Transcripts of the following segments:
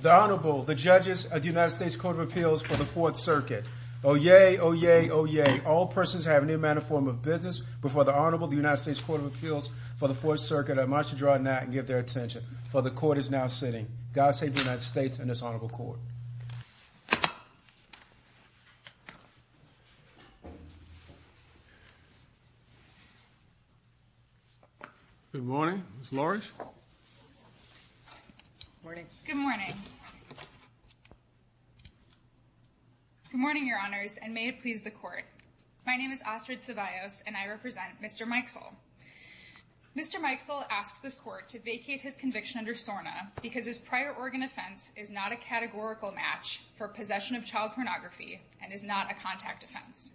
The Honorable, the Judges of the United States Court of Appeals for the Fourth Circuit. Oyez! Oyez! Oyez! All persons who have any manner or form of business before the Honorable of the United States Court of Appeals for the Fourth Circuit are admonished to draw a net and give their attention, for the Court is now sitting. God save the United States and this Honorable Court. Good morning, Ms. Lawrence. Good morning. Good morning, Your Honors, and may it please the Court. My name is Astrid Ceballos and I represent Mr. Mixell. Mr. Mixell asks this Court to vacate his conviction under SORNA because his prior organ offense is not a categorical match for possession of child pornography and is not a contact offense.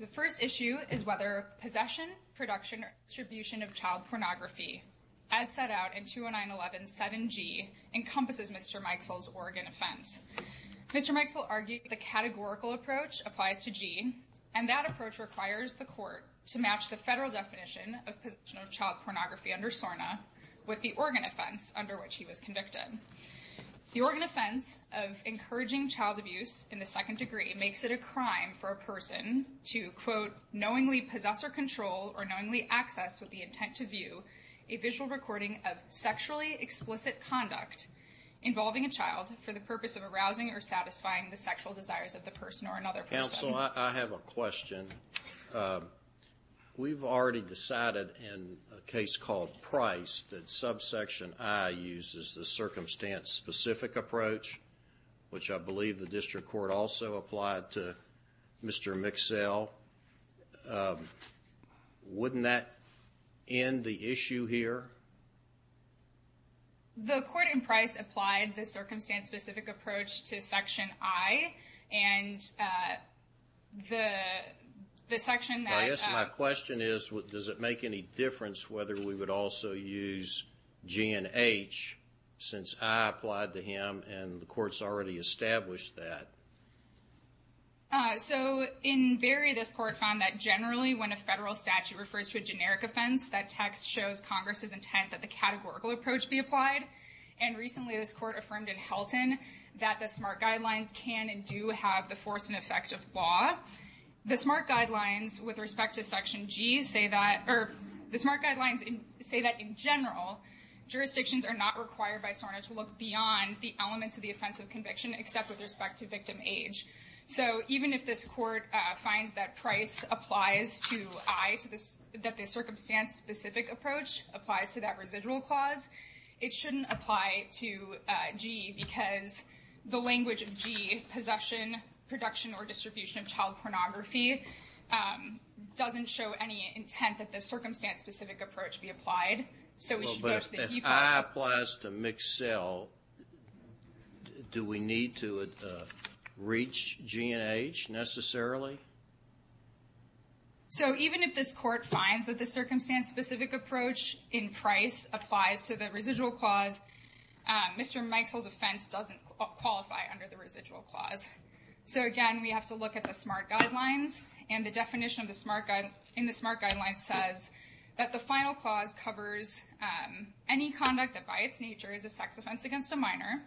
The first issue is whether possession, production, or distribution of child pornography, as set out in 20911 7G, encompasses Mr. Mixell's organ offense. Mr. Mixell argued the categorical approach applies to G, and that approach requires the Court to match the federal definition of possession of child pornography under SORNA with the organ offense under which he was convicted. The organ offense of encouraging child abuse in the second degree makes it a crime for a person to, quote, knowingly possess or control or knowingly access with the intent to view a visual recording of sexually explicit conduct involving a child for the purpose of arousing or satisfying the sexual desires of the person or another person. Counsel, I have a question. We've already decided in a case called Price that subsection I uses the circumstance-specific approach, which I believe the District Court also applied to Mr. Mixell. Wouldn't that end the issue here? The Court in Price applied the circumstance-specific approach to section I, and the section that… I guess my question is, does it make any difference whether we would also use G and H since I applied to him and the Court's already established that? So, in Berry, this Court found that generally when a federal statute refers to a generic offense, that text shows Congress's intent that the categorical approach be applied. And recently, this Court affirmed in Helton that the SMART guidelines can and do have the force and effect of law. The SMART guidelines with respect to section G say that… The SMART guidelines say that in general, jurisdictions are not required by SORNA to look beyond the elements of the offense of conviction except with respect to victim age. So even if this Court finds that Price applies to I, that the circumstance-specific approach applies to that residual clause, it shouldn't apply to G because the language of G, possession, production, or distribution of child pornography, doesn't show any intent that the circumstance-specific approach be applied. So we should go to the default. If I applies to Mixell, do we need to reach G and H necessarily? So even if this Court finds that the circumstance-specific approach in Price applies to the residual clause, Mr. Mixell's offense doesn't qualify under the residual clause. So again, we have to look at the SMART guidelines. And the definition in the SMART guidelines says that the final clause covers any conduct that by its nature is a sex offense against a minor,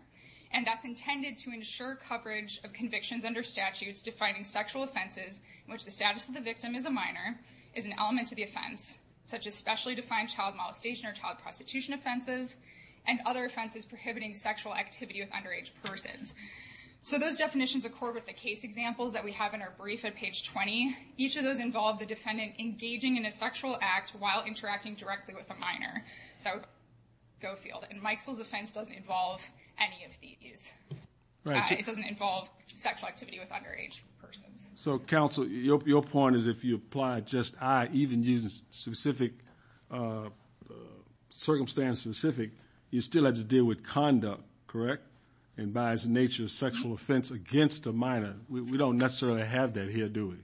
and that's intended to ensure coverage of convictions under statutes defining sexual offenses in which the status of the victim is a minor, is an element to the offense, such as specially defined child molestation or child prostitution offenses, and other offenses prohibiting sexual activity with underage persons. So those definitions accord with the case examples that we have in our brief at page 20. Each of those involve the defendant engaging in a sexual act while interacting directly with a minor. So go field. And Mixell's offense doesn't involve any of these. It doesn't involve sexual activity with underage persons. So counsel, your point is if you apply just I, even using circumstance-specific, you still have to deal with conduct, correct? And by its nature, sexual offense against a minor. We don't necessarily have that here, do we?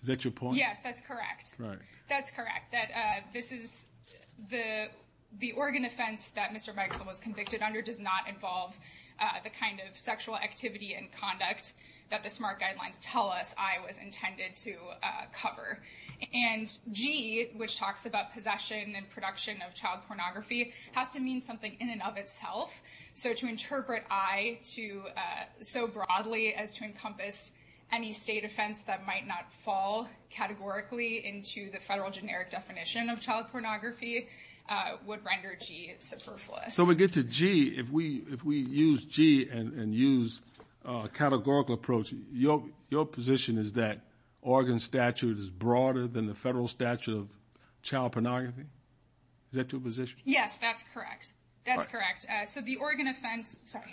Is that your point? Yes, that's correct. That's correct. That this is the organ offense that Mr. Mixell was convicted under does not involve the kind of sexual activity and conduct that the SMART guidelines tell us I was intended to cover. And G, which talks about possession and production of child pornography, has to mean something in and of itself. So to interpret I so broadly as to encompass any state offense that might not fall categorically into the federal generic definition of child pornography would render G superfluous. So we get to G. If we use G and use categorical approach, your position is that organ statute is broader than the federal statute of child pornography? Is that your position? Yes, that's correct. That's correct. Sorry.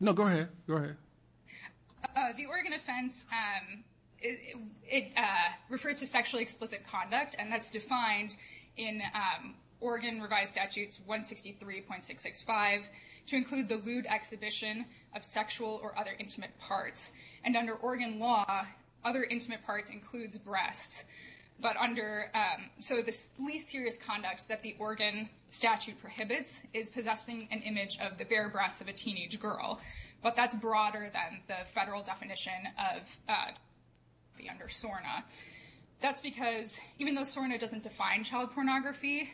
No, go ahead. Go ahead. The organ offense, it refers to sexually explicit conduct, and that's defined in organ revised statutes 163.665 to include the lewd exhibition of sexual or other intimate parts. And under organ law, other intimate parts includes breasts. So the least serious conduct that the organ statute prohibits is possessing an image of the bare breasts of a teenage girl. But that's broader than the federal definition of the under SORNA. That's because even though SORNA doesn't define child pornography,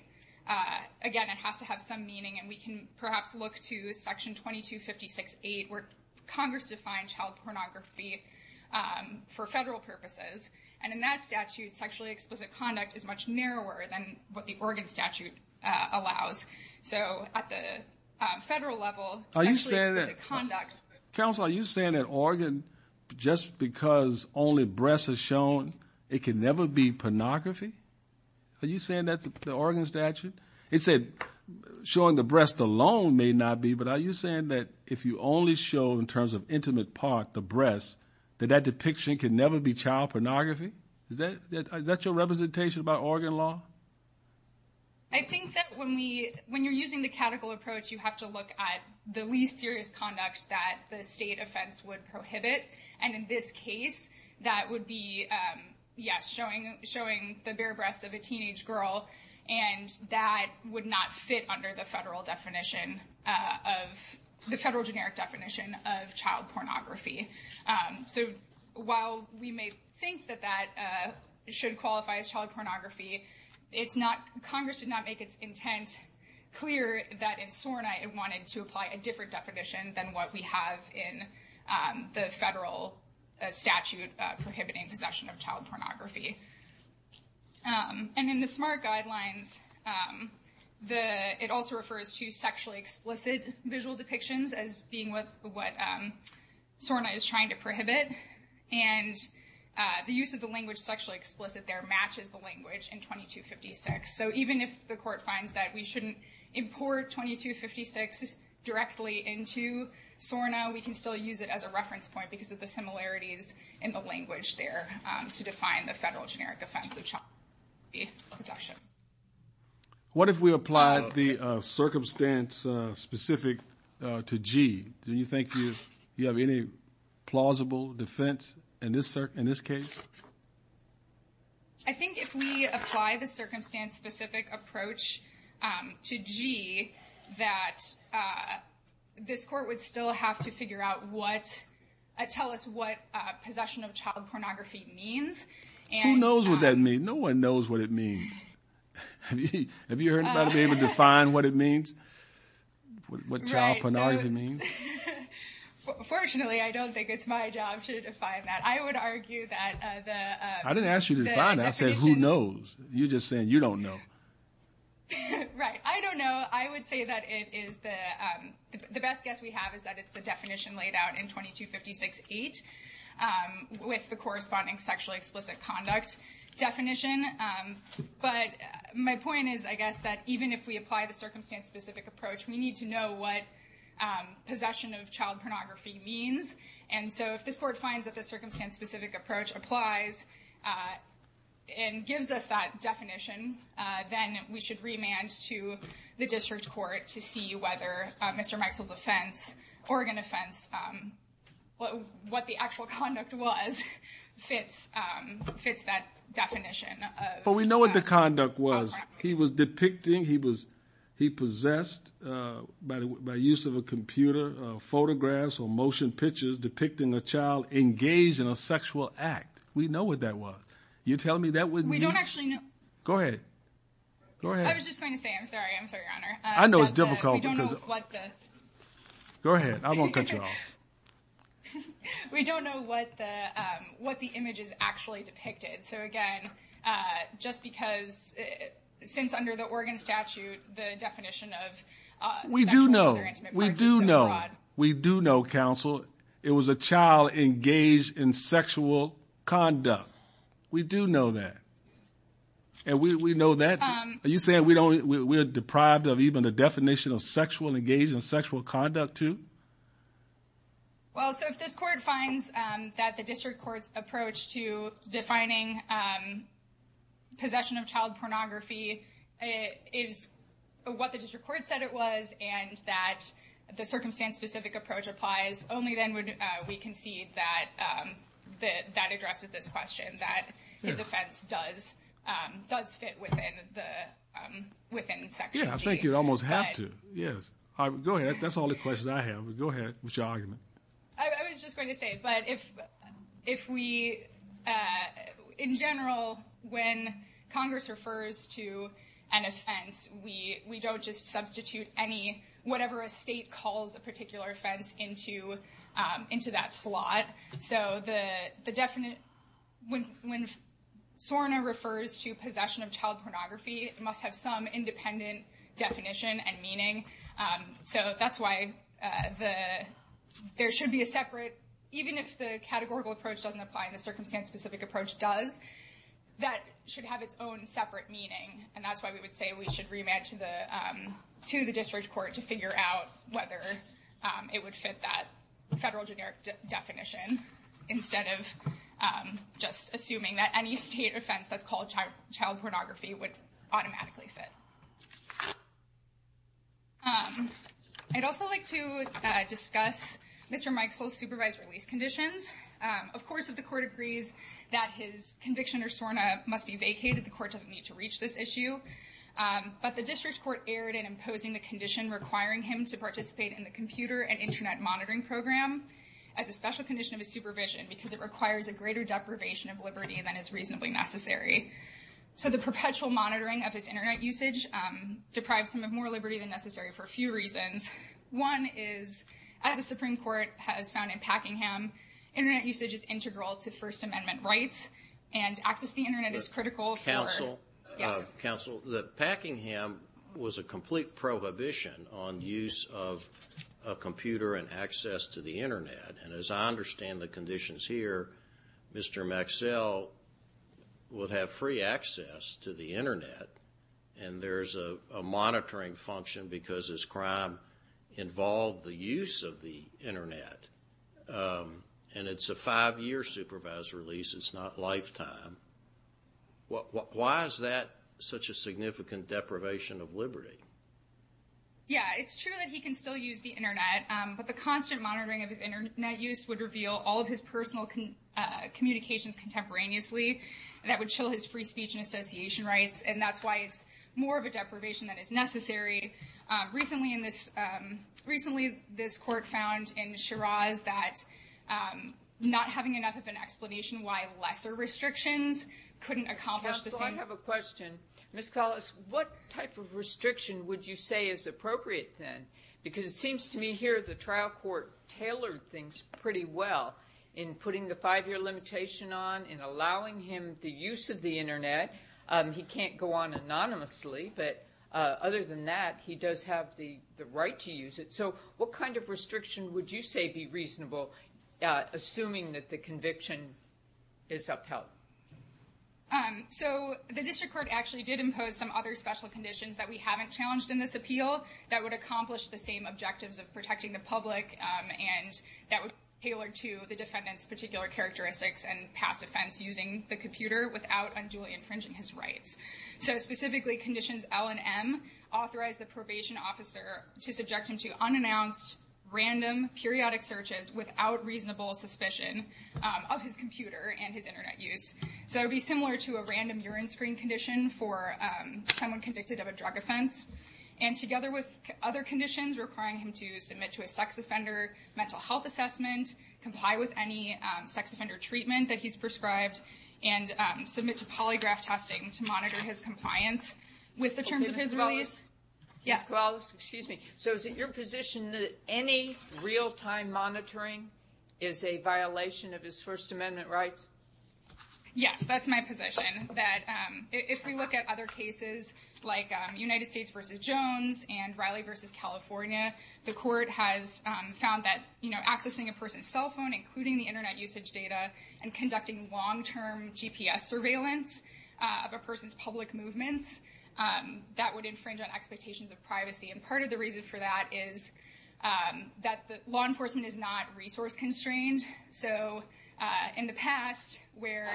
again, it has to have some meaning. And we can perhaps look to Section 2256.8 where Congress defined child pornography for federal purposes. And in that statute, sexually explicit conduct is much narrower than what the organ statute allows. So at the federal level, sexually explicit conduct. Counsel, are you saying that organ, just because only breasts are shown, it can never be pornography? Are you saying that's the organ statute? It said showing the breasts alone may not be. But are you saying that if you only show in terms of intimate part the breasts, that that depiction can never be child pornography? Is that your representation about organ law? I think that when you're using the catechol approach, you have to look at the least serious conduct that the state offense would prohibit. And in this case, that would be, yes, showing the bare breasts of a teenage girl. And that would not fit under the federal generic definition of child pornography. So while we may think that that should qualify as child pornography, Congress did not make its intent clear that in SORNA it wanted to apply a different definition than what we have in the federal statute prohibiting possession of child pornography. And in the SMART guidelines, it also refers to sexually explicit visual depictions as being what SORNA is trying to prohibit. And the use of the language sexually explicit there matches the language in 2256. So even if the court finds that we shouldn't import 2256 directly into SORNA, we can still use it as a reference point because of the similarities in the language there to define the federal generic defense of child pornography possession. What if we applied the circumstance specific to G? Do you think you have any plausible defense in this case? I think if we apply the circumstance specific approach to G, that this court would still have to tell us what possession of child pornography means. Who knows what that means? No one knows what it means. Have you heard about being able to define what it means? What child pornography means? Fortunately, I don't think it's my job to define that. I didn't ask you to define that. I said, who knows? You're just saying you don't know. Right. I don't know. I would say that it is the best guess we have is that it's the definition laid out in 2256-8 with the corresponding sexually explicit conduct definition. But my point is, I guess, that even if we apply the circumstance specific approach, we need to know what possession of child pornography means. And so if this court finds that the circumstance specific approach applies and gives us that definition, then we should remand to the district court to see whether Mr. Mikesell's offense, Oregon offense, what the actual conduct was fits that definition. But we know what the conduct was. He was depicting. He was he possessed by the use of a computer photographs or motion pictures depicting a child engaged in a sexual act. We know what that was. You're telling me that we don't actually know. Go ahead. I was just going to say, I'm sorry. I'm sorry. I know it's difficult. Go ahead. I won't cut you off. We don't know what the what the image is actually depicted. So, again, just because since under the Oregon statute, the definition of we do know, we do know. We do know, counsel, it was a child engaged in sexual conduct. We do know that. And we know that you say we don't. We're deprived of even the definition of sexual, engaged in sexual conduct, too. Well, so if this court finds that the district court's approach to defining possession of child pornography is what the district court said it was, and that the circumstance specific approach applies, only then would we concede that that that addresses this question, that his offense does does fit within the within section. Yeah, I think you almost have to. Yes. Go ahead. That's all the questions I have. Go ahead. Which argument? I was just going to say, but if if we in general, when Congress refers to an offense, we we don't just substitute any whatever a state calls a particular offense into into that slot. So the definite when when Sorna refers to possession of child pornography must have some independent definition and meaning. So that's why the there should be a separate. Even if the categorical approach doesn't apply in the circumstance, specific approach does that should have its own separate meaning. And that's why we would say we should remand to the to the district court to figure out whether it would fit that federal generic definition. Instead of just assuming that any state offense that's called child pornography would automatically fit. I'd also like to discuss Mr. Mike's supervised release conditions. Of course, if the court agrees that his conviction or Sorna must be vacated, the court doesn't need to reach this issue. But the district court erred in imposing the condition requiring him to participate in the computer and Internet monitoring program. As a special condition of his supervision, because it requires a greater deprivation of liberty than is reasonably necessary. So the perpetual monitoring of his Internet usage deprives him of more liberty than necessary for a few reasons. One is, as the Supreme Court has found in Packingham, Internet usage is integral to First Amendment rights and access to the Internet is critical. Counsel, the Packingham was a complete prohibition on use of a computer and access to the Internet. And as I understand the conditions here, Mr. Maxell would have free access to the Internet. And there's a monitoring function because his crime involved the use of the Internet. And it's a five year supervised release. It's not lifetime. Why is that such a significant deprivation of liberty? Yeah, it's true that he can still use the Internet. But the constant monitoring of Internet use would reveal all of his personal communications contemporaneously. That would show his free speech and association rights. And that's why it's more of a deprivation that is necessary. Recently, this court found in Shiraz that not having enough of an explanation why lesser restrictions couldn't accomplish the same. Counsel, I have a question. Ms. Collis, what type of restriction would you say is appropriate then? Because it seems to me here the trial court tailored things pretty well in putting the five year limitation on and allowing him the use of the Internet. He can't go on anonymously. But other than that, he does have the right to use it. So what kind of restriction would you say be reasonable, assuming that the conviction is upheld? So the district court actually did impose some other special conditions that we haven't challenged in this appeal that would accomplish the same objectives of protecting the public. And that would be tailored to the defendant's particular characteristics and past offense using the computer without unduly infringing his rights. So specifically conditions L&M authorized the probation officer to subject him to unannounced, random, periodic searches without reasonable suspicion of his computer and his Internet use. So it would be similar to a random urine screen condition for someone convicted of a drug offense. And together with other conditions requiring him to submit to a sex offender mental health assessment, comply with any sex offender treatment that he's prescribed and submit to polygraph testing to monitor his compliance with the terms of his release. Yes. Well, excuse me. So is it your position that any real time monitoring is a violation of his First Amendment rights? Yes, that's my position that if we look at other cases like United States versus Jones and Riley versus California, the court has found that, you know, accessing a person's cell phone, including the Internet usage data and conducting long term GPS surveillance of a person's public movements. That would infringe on expectations of privacy. And part of the reason for that is that the law enforcement is not resource constrained. So in the past, where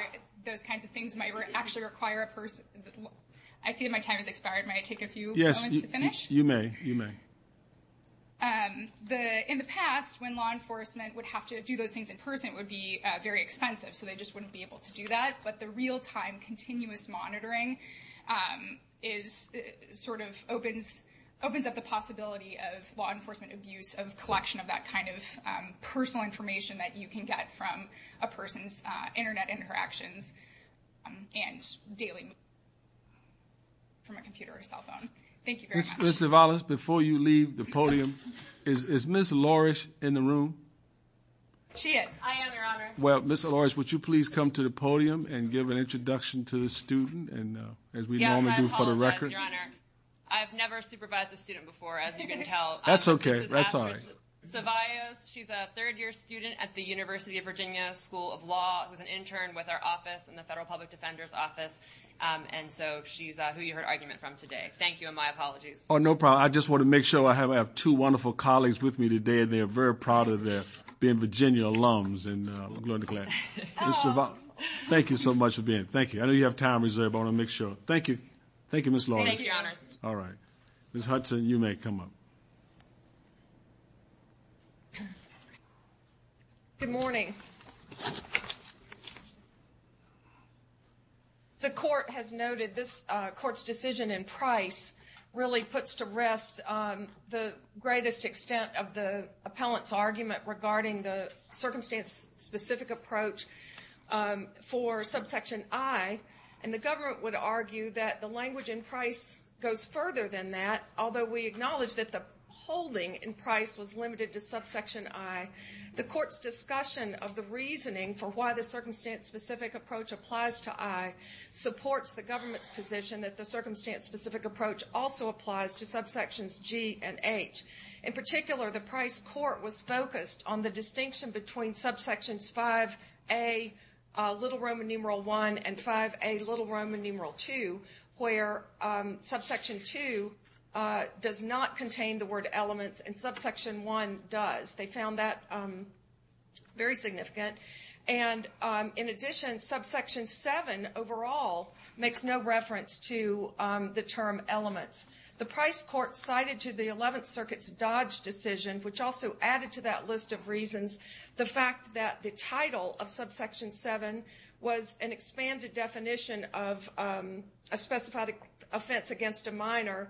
those kinds of things might actually require a person, I see my time has expired. May I take a few minutes to finish? Yes, you may. You may. She is. I am, Your Honor. Well, Ms. Lawrence, would you please come to the podium and give an introduction to the student? And as we normally do for the record. Yes, Your Honor. I've never supervised a student before, as you can tell. That's OK. That's all right. She's a third year student at the University of Virginia School of Law, who's an intern with our office and the Federal Public Defender's Office. And so she's who you heard argument from today. Thank you. And my apologies. Oh, no problem. I just want to make sure I have two wonderful colleagues with me today. They are very proud of their being Virginia alums. Thank you so much for being. Thank you. I know you have time reserved. I want to make sure. Thank you. Thank you, Ms. Lawrence. Thank you, Your Honors. All right. Ms. Hudson, you may come up. Good morning. The court has noted this court's decision in Price really puts to rest the greatest extent of the appellant's argument regarding the circumstance specific approach for subsection I. And the government would argue that the language in Price goes further than that, although we acknowledge that the holding in Price was limited to subsection I. The court's discussion of the reasoning for why the circumstance specific approach applies to I supports the government's position that the circumstance specific approach also applies to subsections G and H. In particular, the Price court was focused on the distinction between subsections V.A. little Roman numeral I and V.A. little Roman numeral II, where subsection II does not contain the word elements and subsection I does. They found that very significant. And in addition, subsection VII overall makes no reference to the term elements. The Price court cited to the Eleventh Circuit's Dodge decision, which also added to that list of reasons, the fact that the title of subsection VII was an expanded definition of a specified offense against a minor,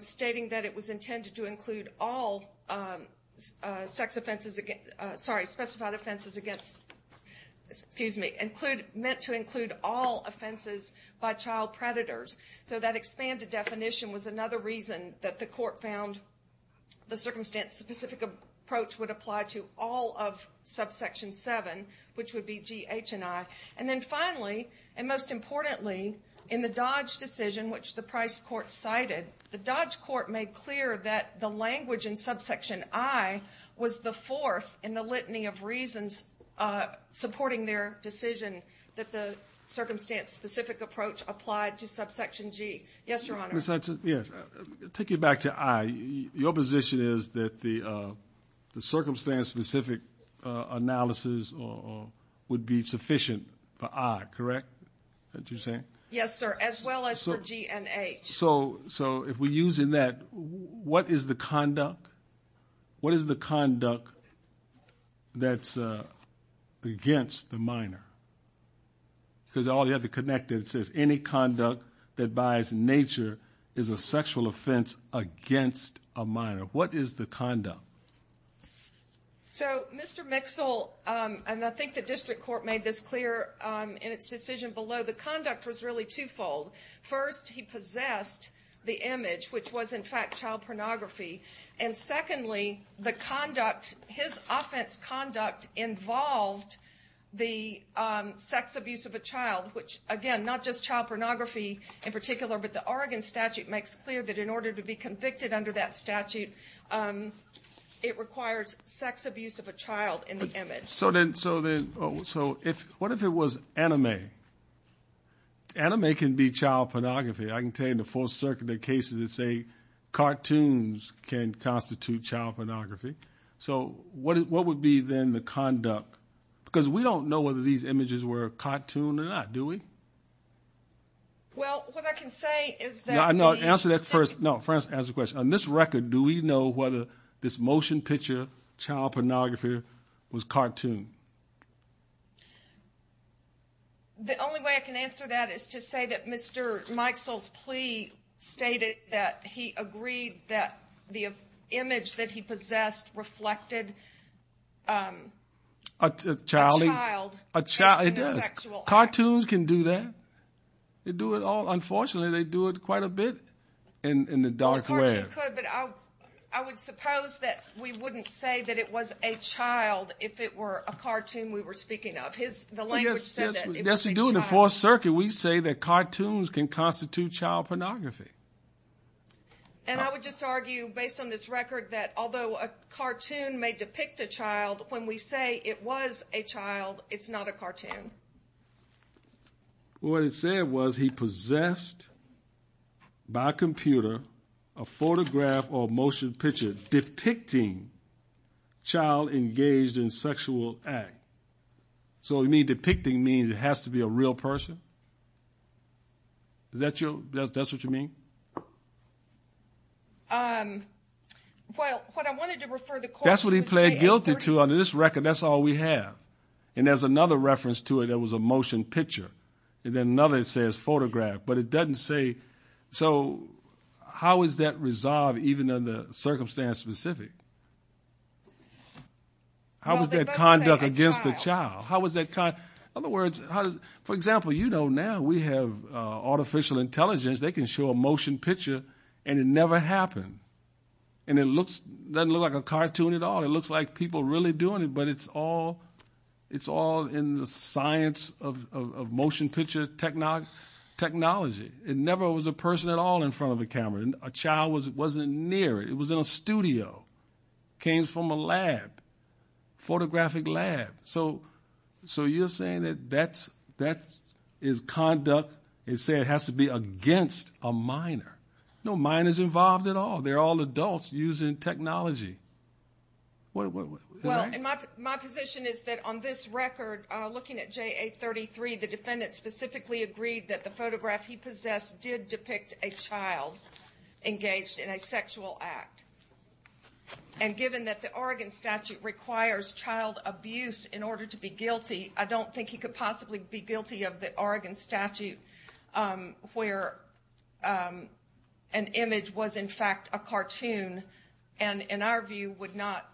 stating that it was intended to include all specified offenses meant to include all offenses by child predators. So that expanded definition was another reason that the court found the circumstance specific approach would apply to all of subsection VII, which would be G, H, and I. And then finally, and most importantly, in the Dodge decision, which the Price court cited, the Dodge court made clear that the language in subsection I was the fourth in the litany of reasons supporting their decision that the circumstance specific approach applied to subsection G. Yes, Your Honor. Take you back to I. Your position is that the circumstance specific analysis would be sufficient for I, correct? Yes, sir. As well as for G and H. So if we're using that, what is the conduct? What is the conduct that's against the minor? Because all you have to connect it, it says any conduct that buys nature is a sexual offense against a minor. What is the conduct? So, Mr. Mixell, and I think the district court made this clear in its decision below, the conduct was really twofold. First, he possessed the image, which was, in fact, child pornography. And secondly, the conduct, his offense conduct involved the sex abuse of a child, which, again, not just child pornography in particular, but the Oregon statute makes clear that in order to be convicted under that statute, it requires sex abuse of a child in the image. So what if it was anime? Anime can be child pornography. I can tell you in the Fourth Circuit, the cases that say cartoons can constitute child pornography. So what would be then the conduct? Because we don't know whether these images were cartoon or not, do we? Well, what I can say is that the — No, answer that first. No, first answer the question. On this record, do we know whether this motion picture, child pornography, was cartoon? The only way I can answer that is to say that Mr. Mixell's plea stated that he agreed that the image that he possessed reflected a child. A child. A child. It does. Cartoons can do that. They do it all. In the dark web. A cartoon could, but I would suppose that we wouldn't say that it was a child if it were a cartoon we were speaking of. The language said that it was a child. Yes, we do. In the Fourth Circuit, we say that cartoons can constitute child pornography. And I would just argue, based on this record, that although a cartoon may depict a child, when we say it was a child, it's not a cartoon. What it said was he possessed, by computer, a photograph or motion picture depicting child engaged in sexual act. So, you mean depicting means it has to be a real person? Is that what you mean? Well, what I wanted to refer the court — That's what he pled guilty to under this record. That's all we have. And there's another reference to it that was a motion picture. And then another says photograph, but it doesn't say — So, how is that resolved even under circumstance specific? How is that conduct against a child? How is that — In other words, for example, you know now we have artificial intelligence. They can show a motion picture and it never happened. And it doesn't look like a cartoon at all. It looks like people really doing it, but it's all in the science of motion picture technology. It never was a person at all in front of a camera. A child wasn't near it. It was in a studio. It came from a lab, photographic lab. So, you're saying that that is conduct and saying it has to be against a minor. No, minor's involved at all. They're all adults using technology. Well, my position is that on this record, looking at JA-33, the defendant specifically agreed that the photograph he possessed did depict a child engaged in a sexual act. And given that the Oregon statute requires child abuse in order to be guilty, I don't think he could possibly be guilty of the Oregon statute where an image was in fact a cartoon and in our view would not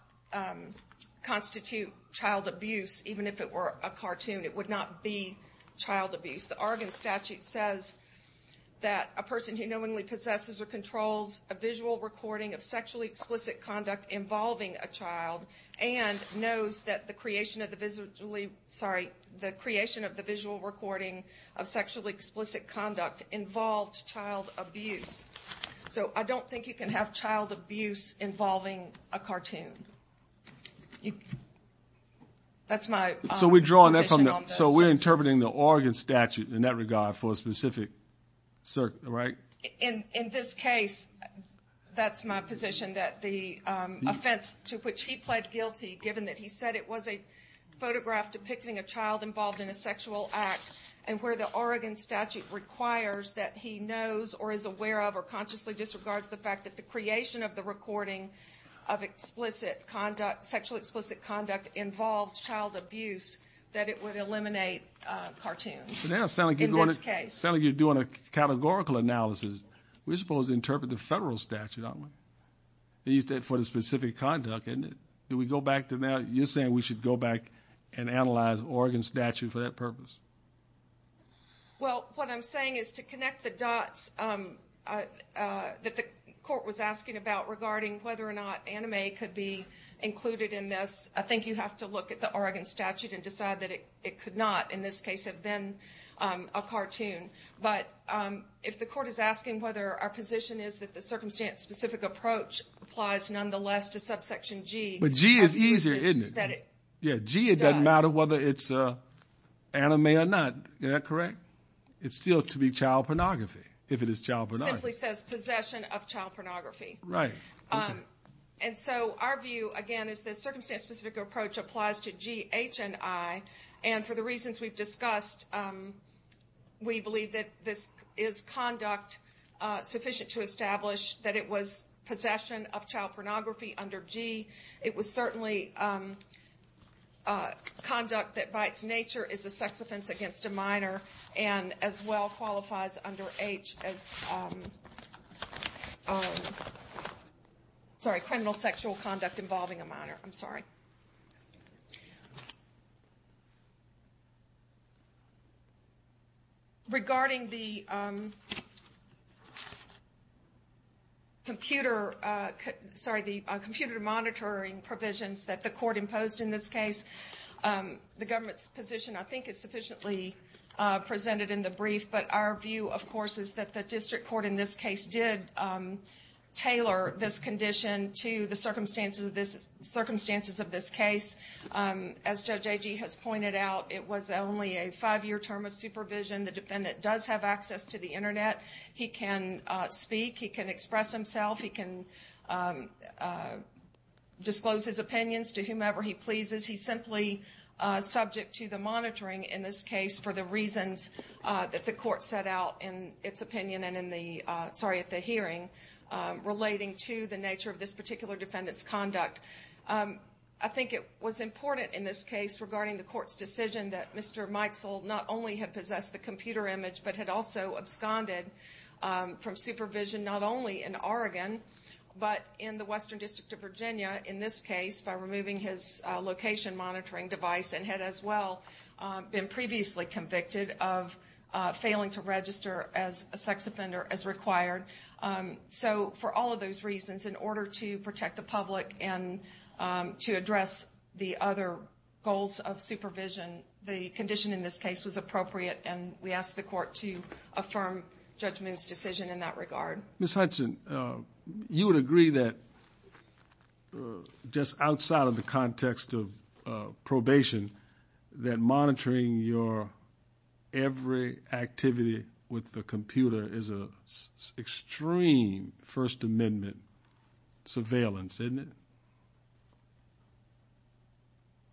constitute child abuse even if it were a cartoon. It would not be child abuse. The Oregon statute says that a person who knowingly possesses or controls a visual recording of sexually explicit conduct involving a child and knows that the creation of the visually, sorry, the creation of the visual recording of sexually explicit conduct involved child abuse. So, I don't think you can have child abuse involving a cartoon. That's my position on this. So, we're interpreting the Oregon statute in that regard for a specific, right? In this case, that's my position that the offense to which he pled guilty given that he said it was a photograph depicting a child involved in a sexual act and where the Oregon statute requires that he knows or is aware of or consciously disregards the fact that the creation of the recording of explicit conduct, sexually explicit conduct involved child abuse, that it would eliminate cartoons in this case. Now, it sounds like you're doing a categorical analysis. We're supposed to interpret the federal statute, aren't we, for the specific conduct, isn't it? Did we go back to that? You're saying we should go back and analyze the Oregon statute for that purpose. Well, what I'm saying is to connect the dots that the court was asking about regarding whether or not anime could be included in this, I think you have to look at the Oregon statute and decide that it could not, in this case, have been a cartoon. But if the court is asking whether our position is that the circumstance-specific approach applies nonetheless to subsection G. But G is easier, isn't it? Yeah, G, it doesn't matter whether it's anime or not. Is that correct? It's still to be child pornography if it is child pornography. It simply says possession of child pornography. Right. And so our view, again, is the circumstance-specific approach applies to G, H, and I. And for the reasons we've discussed, we believe that this is conduct sufficient to establish that it was possession of child pornography under G. It was certainly conduct that by its nature is a sex offense against a minor and as well qualifies under H as criminal sexual conduct involving a minor. I'm sorry. Regarding the computer monitoring provisions that the court imposed in this case, the government's position I think is sufficiently presented in the brief, but our view, of course, is that the district court in this case did tailor this condition to the circumstances of this case. As Judge Agee has pointed out, it was only a five-year term of supervision. The defendant does have access to the Internet. He can speak. He can express himself. He can disclose his opinions to whomever he pleases. He's simply subject to the monitoring in this case for the reasons that the court set out in its opinion and in the hearing relating to the nature of this particular defendant's conduct. I think it was important in this case regarding the court's decision that Mr. Mikesell not only had possessed the computer image but had also absconded from supervision not only in Oregon, but in the Western District of Virginia in this case by removing his location monitoring device and had as well been previously convicted of failing to register as a sex offender as required. So for all of those reasons, in order to protect the public and to address the other goals of supervision, the condition in this case was appropriate, and we asked the court to affirm Judge Moon's decision in that regard. Ms. Hudson, you would agree that just outside of the context of probation, that monitoring your every activity with the computer is an extreme First Amendment surveillance, isn't it?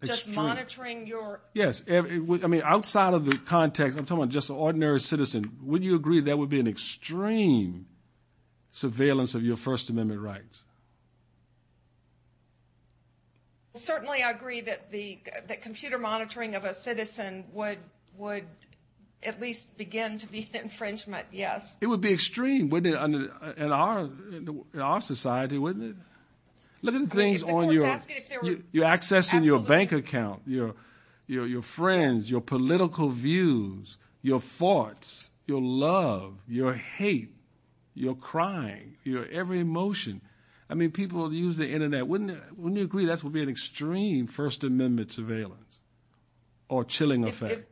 Just monitoring your? Yes. I mean, outside of the context, I'm talking about just an ordinary citizen. Would you agree that would be an extreme surveillance of your First Amendment rights? Certainly I agree that computer monitoring of a citizen would at least begin to be an infringement, yes. It would be extreme, wouldn't it, in our society, wouldn't it? I mean, if the court's asking if there were? You're accessing your bank account, your friends, your political views, your thoughts, your love, your hate, your crying, your every emotion. I mean, people use the Internet. Wouldn't you agree that would be an extreme First Amendment surveillance or chilling effect?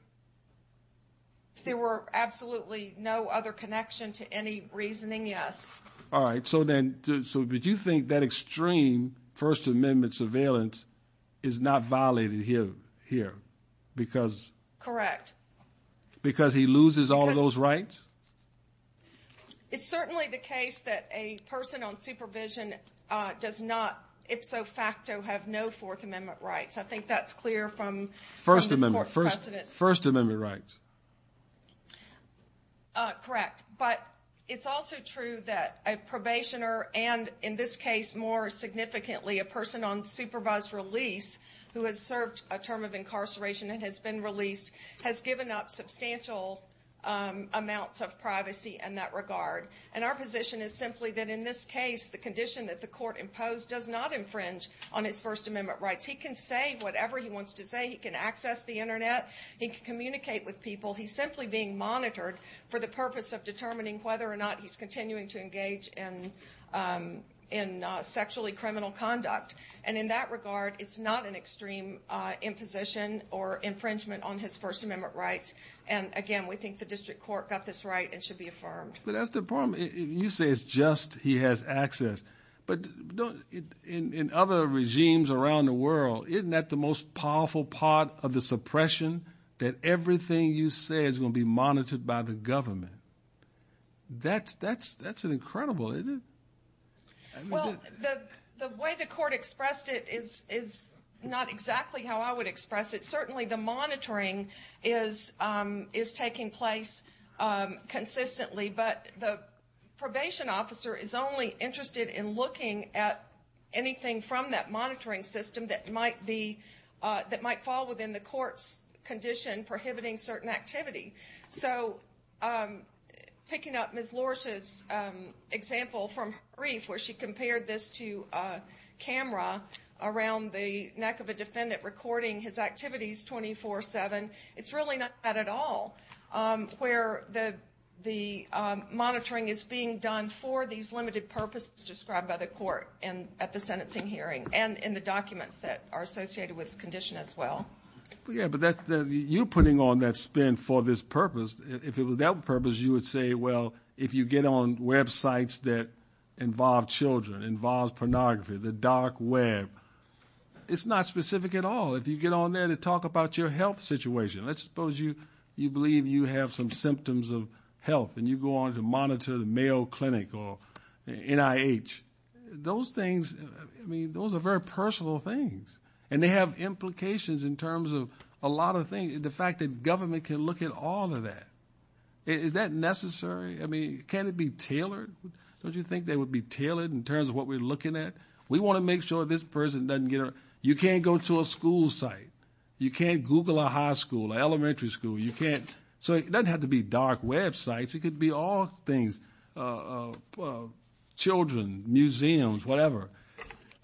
If there were absolutely no other connection to any reasoning, yes. All right. So then, so would you think that extreme First Amendment surveillance is not violated here because? Correct. Because he loses all those rights? It's certainly the case that a person on supervision does not, ipso facto, have no Fourth Amendment rights. I think that's clear from the court's precedents. First Amendment rights. Correct. But it's also true that a probationer and, in this case, more significantly, a person on supervised release who has served a term of incarceration and has been released has given up substantial amounts of privacy in that regard. And our position is simply that, in this case, the condition that the court imposed does not infringe on his First Amendment rights. He can say whatever he wants to say. He can access the Internet. He can communicate with people. He's simply being monitored for the purpose of determining whether or not he's continuing to engage in sexually criminal conduct. And in that regard, it's not an extreme imposition or infringement on his First Amendment rights. And, again, we think the district court got this right and should be affirmed. But that's the problem. You say it's just he has access. But in other regimes around the world, isn't that the most powerful part of the suppression, that everything you say is going to be monitored by the government? That's incredible, isn't it? Well, the way the court expressed it is not exactly how I would express it. Certainly the monitoring is taking place consistently, but the probation officer is only interested in looking at anything from that monitoring system that might fall within the court's condition prohibiting certain activity. So picking up Ms. Lorsch's example from her brief, where she compared this to a camera around the neck of a defendant recording his activities 24-7, it's really not that at all, where the monitoring is being done for these limited purposes described by the court at the sentencing hearing and in the documents that are associated with his condition as well. Yeah, but you're putting on that spin for this purpose. If it was that purpose, you would say, well, if you get on websites that involve children, involve pornography, the dark web, it's not specific at all. If you get on there to talk about your health situation, let's suppose you believe you have some symptoms of health and you go on to monitor the Mayo Clinic or NIH. Those things, I mean, those are very personal things, and they have implications in terms of a lot of things. The fact that government can look at all of that, is that necessary? I mean, can it be tailored? Don't you think they would be tailored in terms of what we're looking at? We want to make sure this person doesn't get a, you can't go to a school site. You can't Google a high school, elementary school. You can't, so it doesn't have to be dark websites. It could be all things, children, museums, whatever.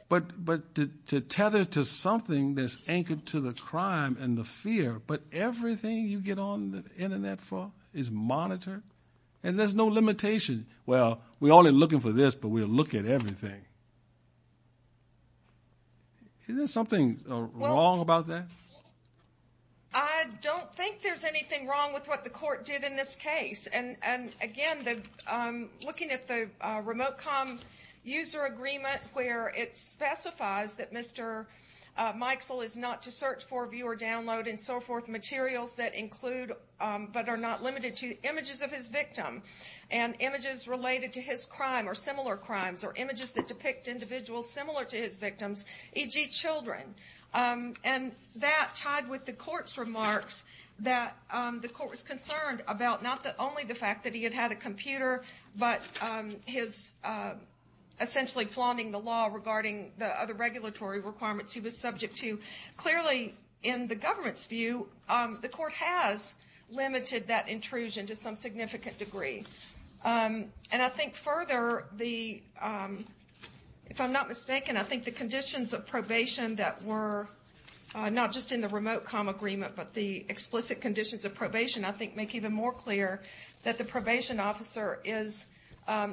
But to tether to something that's anchored to the crime and the fear, but everything you get on the Internet for is monitored, and there's no limitation. Well, we're only looking for this, but we'll look at everything. Isn't there something wrong about that? I don't think there's anything wrong with what the court did in this case. And, again, looking at the remote com user agreement, where it specifies that Mr. Mikesell is not to search for, view, or download, and so forth, materials that include, but are not limited to, images of his victim, and images related to his crime or similar crimes, or images that depict individuals similar to his victims, e.g. children. And that, tied with the court's remarks, that the court was concerned about not only the fact that he had had a computer, but his essentially flaunting the law regarding the other regulatory requirements he was subject to. Clearly, in the government's view, the court has limited that intrusion to some significant degree. And I think further, if I'm not mistaken, I think the conditions of probation that were not just in the remote com agreement, but the explicit conditions of probation, I think, make even more clear that the probation officer is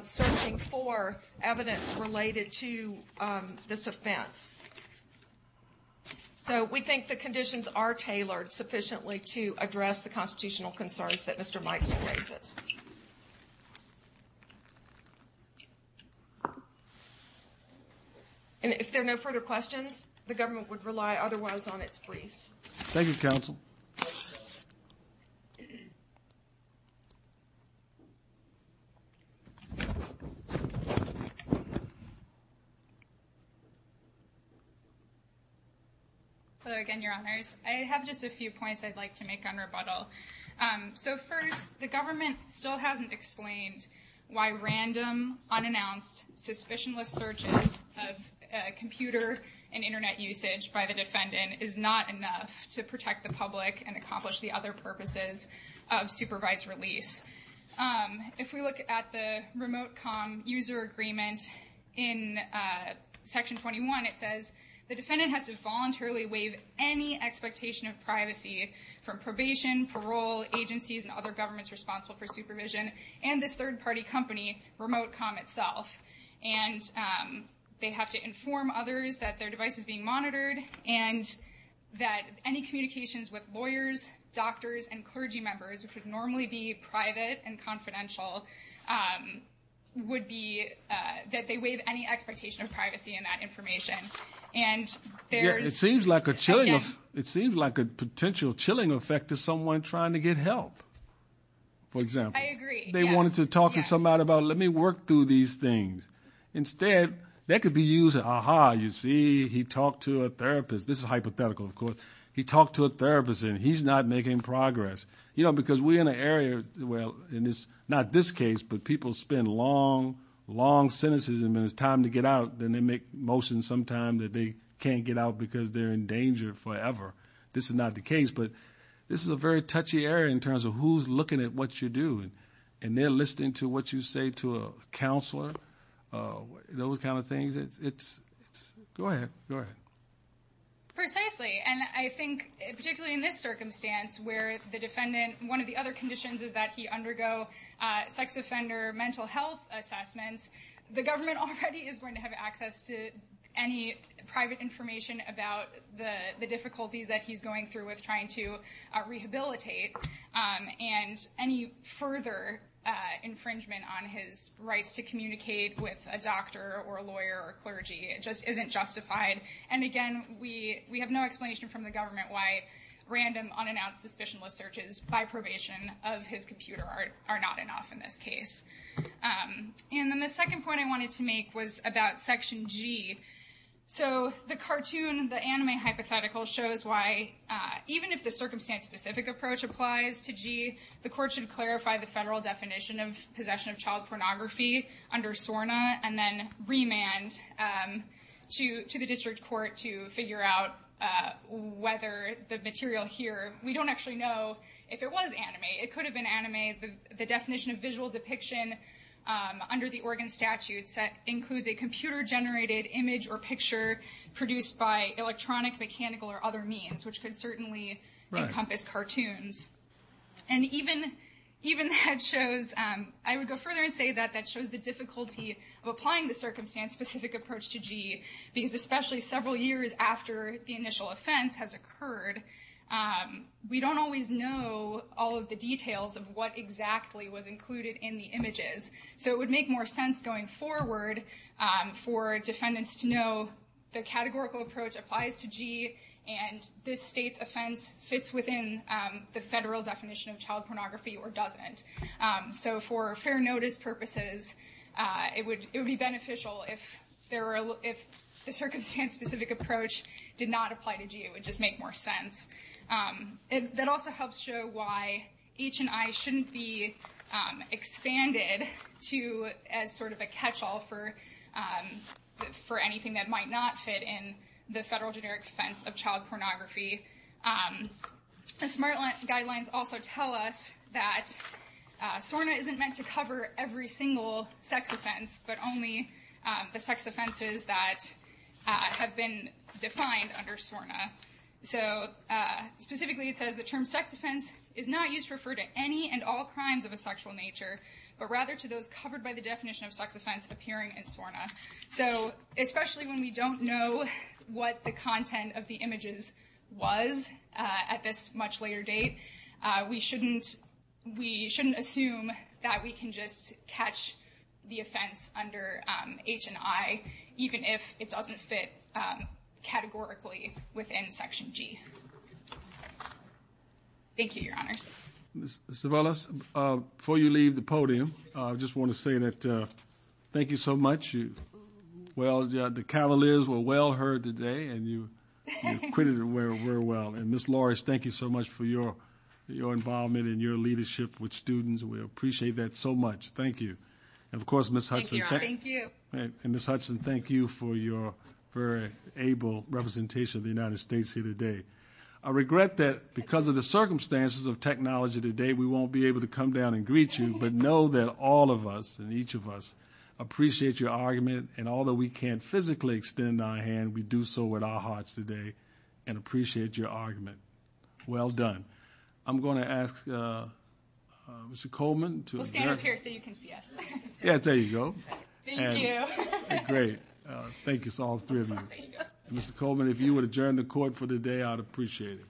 searching for evidence related to this offense. So we think the conditions are tailored sufficiently to address the constitutional concerns that Mr. Mikesell raises. And if there are no further questions, the government would rely otherwise on its briefs. Thank you, Counsel. Hello again, Your Honors. I have just a few points I'd like to make on rebuttal. So first, the government still hasn't explained why random, unannounced, suspicionless searches of computer and Internet usage by the defendant is not enough to protect the public and accomplish the other purposes of supervised release. If we look at the remote com user agreement in Section 21, it says, the defendant has to voluntarily waive any expectation of privacy from probation, parole, agencies, and other governments responsible for supervision, and this third-party company, Remote Com itself. And they have to inform others that their device is being monitored and that any communications with lawyers, doctors, and clergy members, which would normally be private and confidential, would be that they waive any expectation of privacy in that information. It seems like a potential chilling effect to someone trying to get help, for example. I agree. They wanted to talk to somebody about, let me work through these things. Instead, that could be used as, aha, you see, he talked to a therapist. This is hypothetical, of course. He talked to a therapist, and he's not making progress. You know, because we're in an area, well, not this case, but people spend long, long sentences, and when it's time to get out, then they make motions sometime that they can't get out because they're in danger forever. This is not the case. But this is a very touchy area in terms of who's looking at what you're doing, and they're listening to what you say to a counselor, those kind of things. Go ahead. Go ahead. Precisely. And I think, particularly in this circumstance where the defendant, one of the other conditions is that he undergo sex offender mental health assessments, the government already is going to have access to any private information about the difficulties that he's going through with trying to rehabilitate. And any further infringement on his rights to communicate with a doctor or a lawyer or clergy just isn't justified. And, again, we have no explanation from the government why random, unannounced, suspicionless searches by probation of his computer are not enough in this case. And then the second point I wanted to make was about Section G. So the cartoon, the anime hypothetical, shows why even if the circumstance-specific approach applies to G, the court should clarify the federal definition of possession of child pornography under SORNA and then remand to the district court to figure out whether the material here, we don't actually know if it was anime. It could have been anime. The definition of visual depiction under the Oregon statute includes a computer-generated image or picture produced by electronic, mechanical, or other means, which could certainly encompass cartoons. And even that shows, I would go further and say that that shows the difficulty of applying the circumstance-specific approach to G, because especially several years after the initial offense has occurred, we don't always know all of the details of what exactly was included in the images. So it would make more sense going forward for defendants to know the categorical approach applies to G and this state's offense fits within the federal definition of child pornography or doesn't. So for fair notice purposes, it would be beneficial if the circumstance-specific approach did not apply to G. It would just make more sense. That also helps show why H&I shouldn't be expanded to as sort of a catch-all for anything that might not fit in the federal generic offense of child pornography. The SMART guidelines also tell us that SORNA isn't meant to cover every single sex offense, but only the sex offenses that have been defined under SORNA. So specifically, it says the term sex offense is not used to refer to any and all crimes of a sexual nature, but rather to those covered by the definition of sex offense appearing in SORNA. So especially when we don't know what the content of the images was at this much later date, we shouldn't assume that we can just catch the offense under H&I even if it doesn't fit categorically within Section G. Ms. Cervellas, before you leave the podium, I just want to say that thank you so much. Well, the cavaliers were well heard today, and you acquitted them very well. And, Ms. Lawrence, thank you so much for your involvement and your leadership with students. We appreciate that so much. Thank you. And, of course, Ms. Hudson- Thank you, Your Honor. Thank you. And Ms. Hudson, thank you for your very able representation of the United States here today. I regret that because of the circumstances of technology today, we won't be able to come down and greet you, but know that all of us and each of us appreciate your argument, and although we can't physically extend our hand, we do so with our hearts today and appreciate your argument. Well done. I'm going to ask Mr. Coleman to- We'll stand up here so you can see us. Yes, there you go. Thank you. Great. Thank you. It's all three of you. Mr. Coleman, if you would adjourn the court for the day, I'd appreciate it.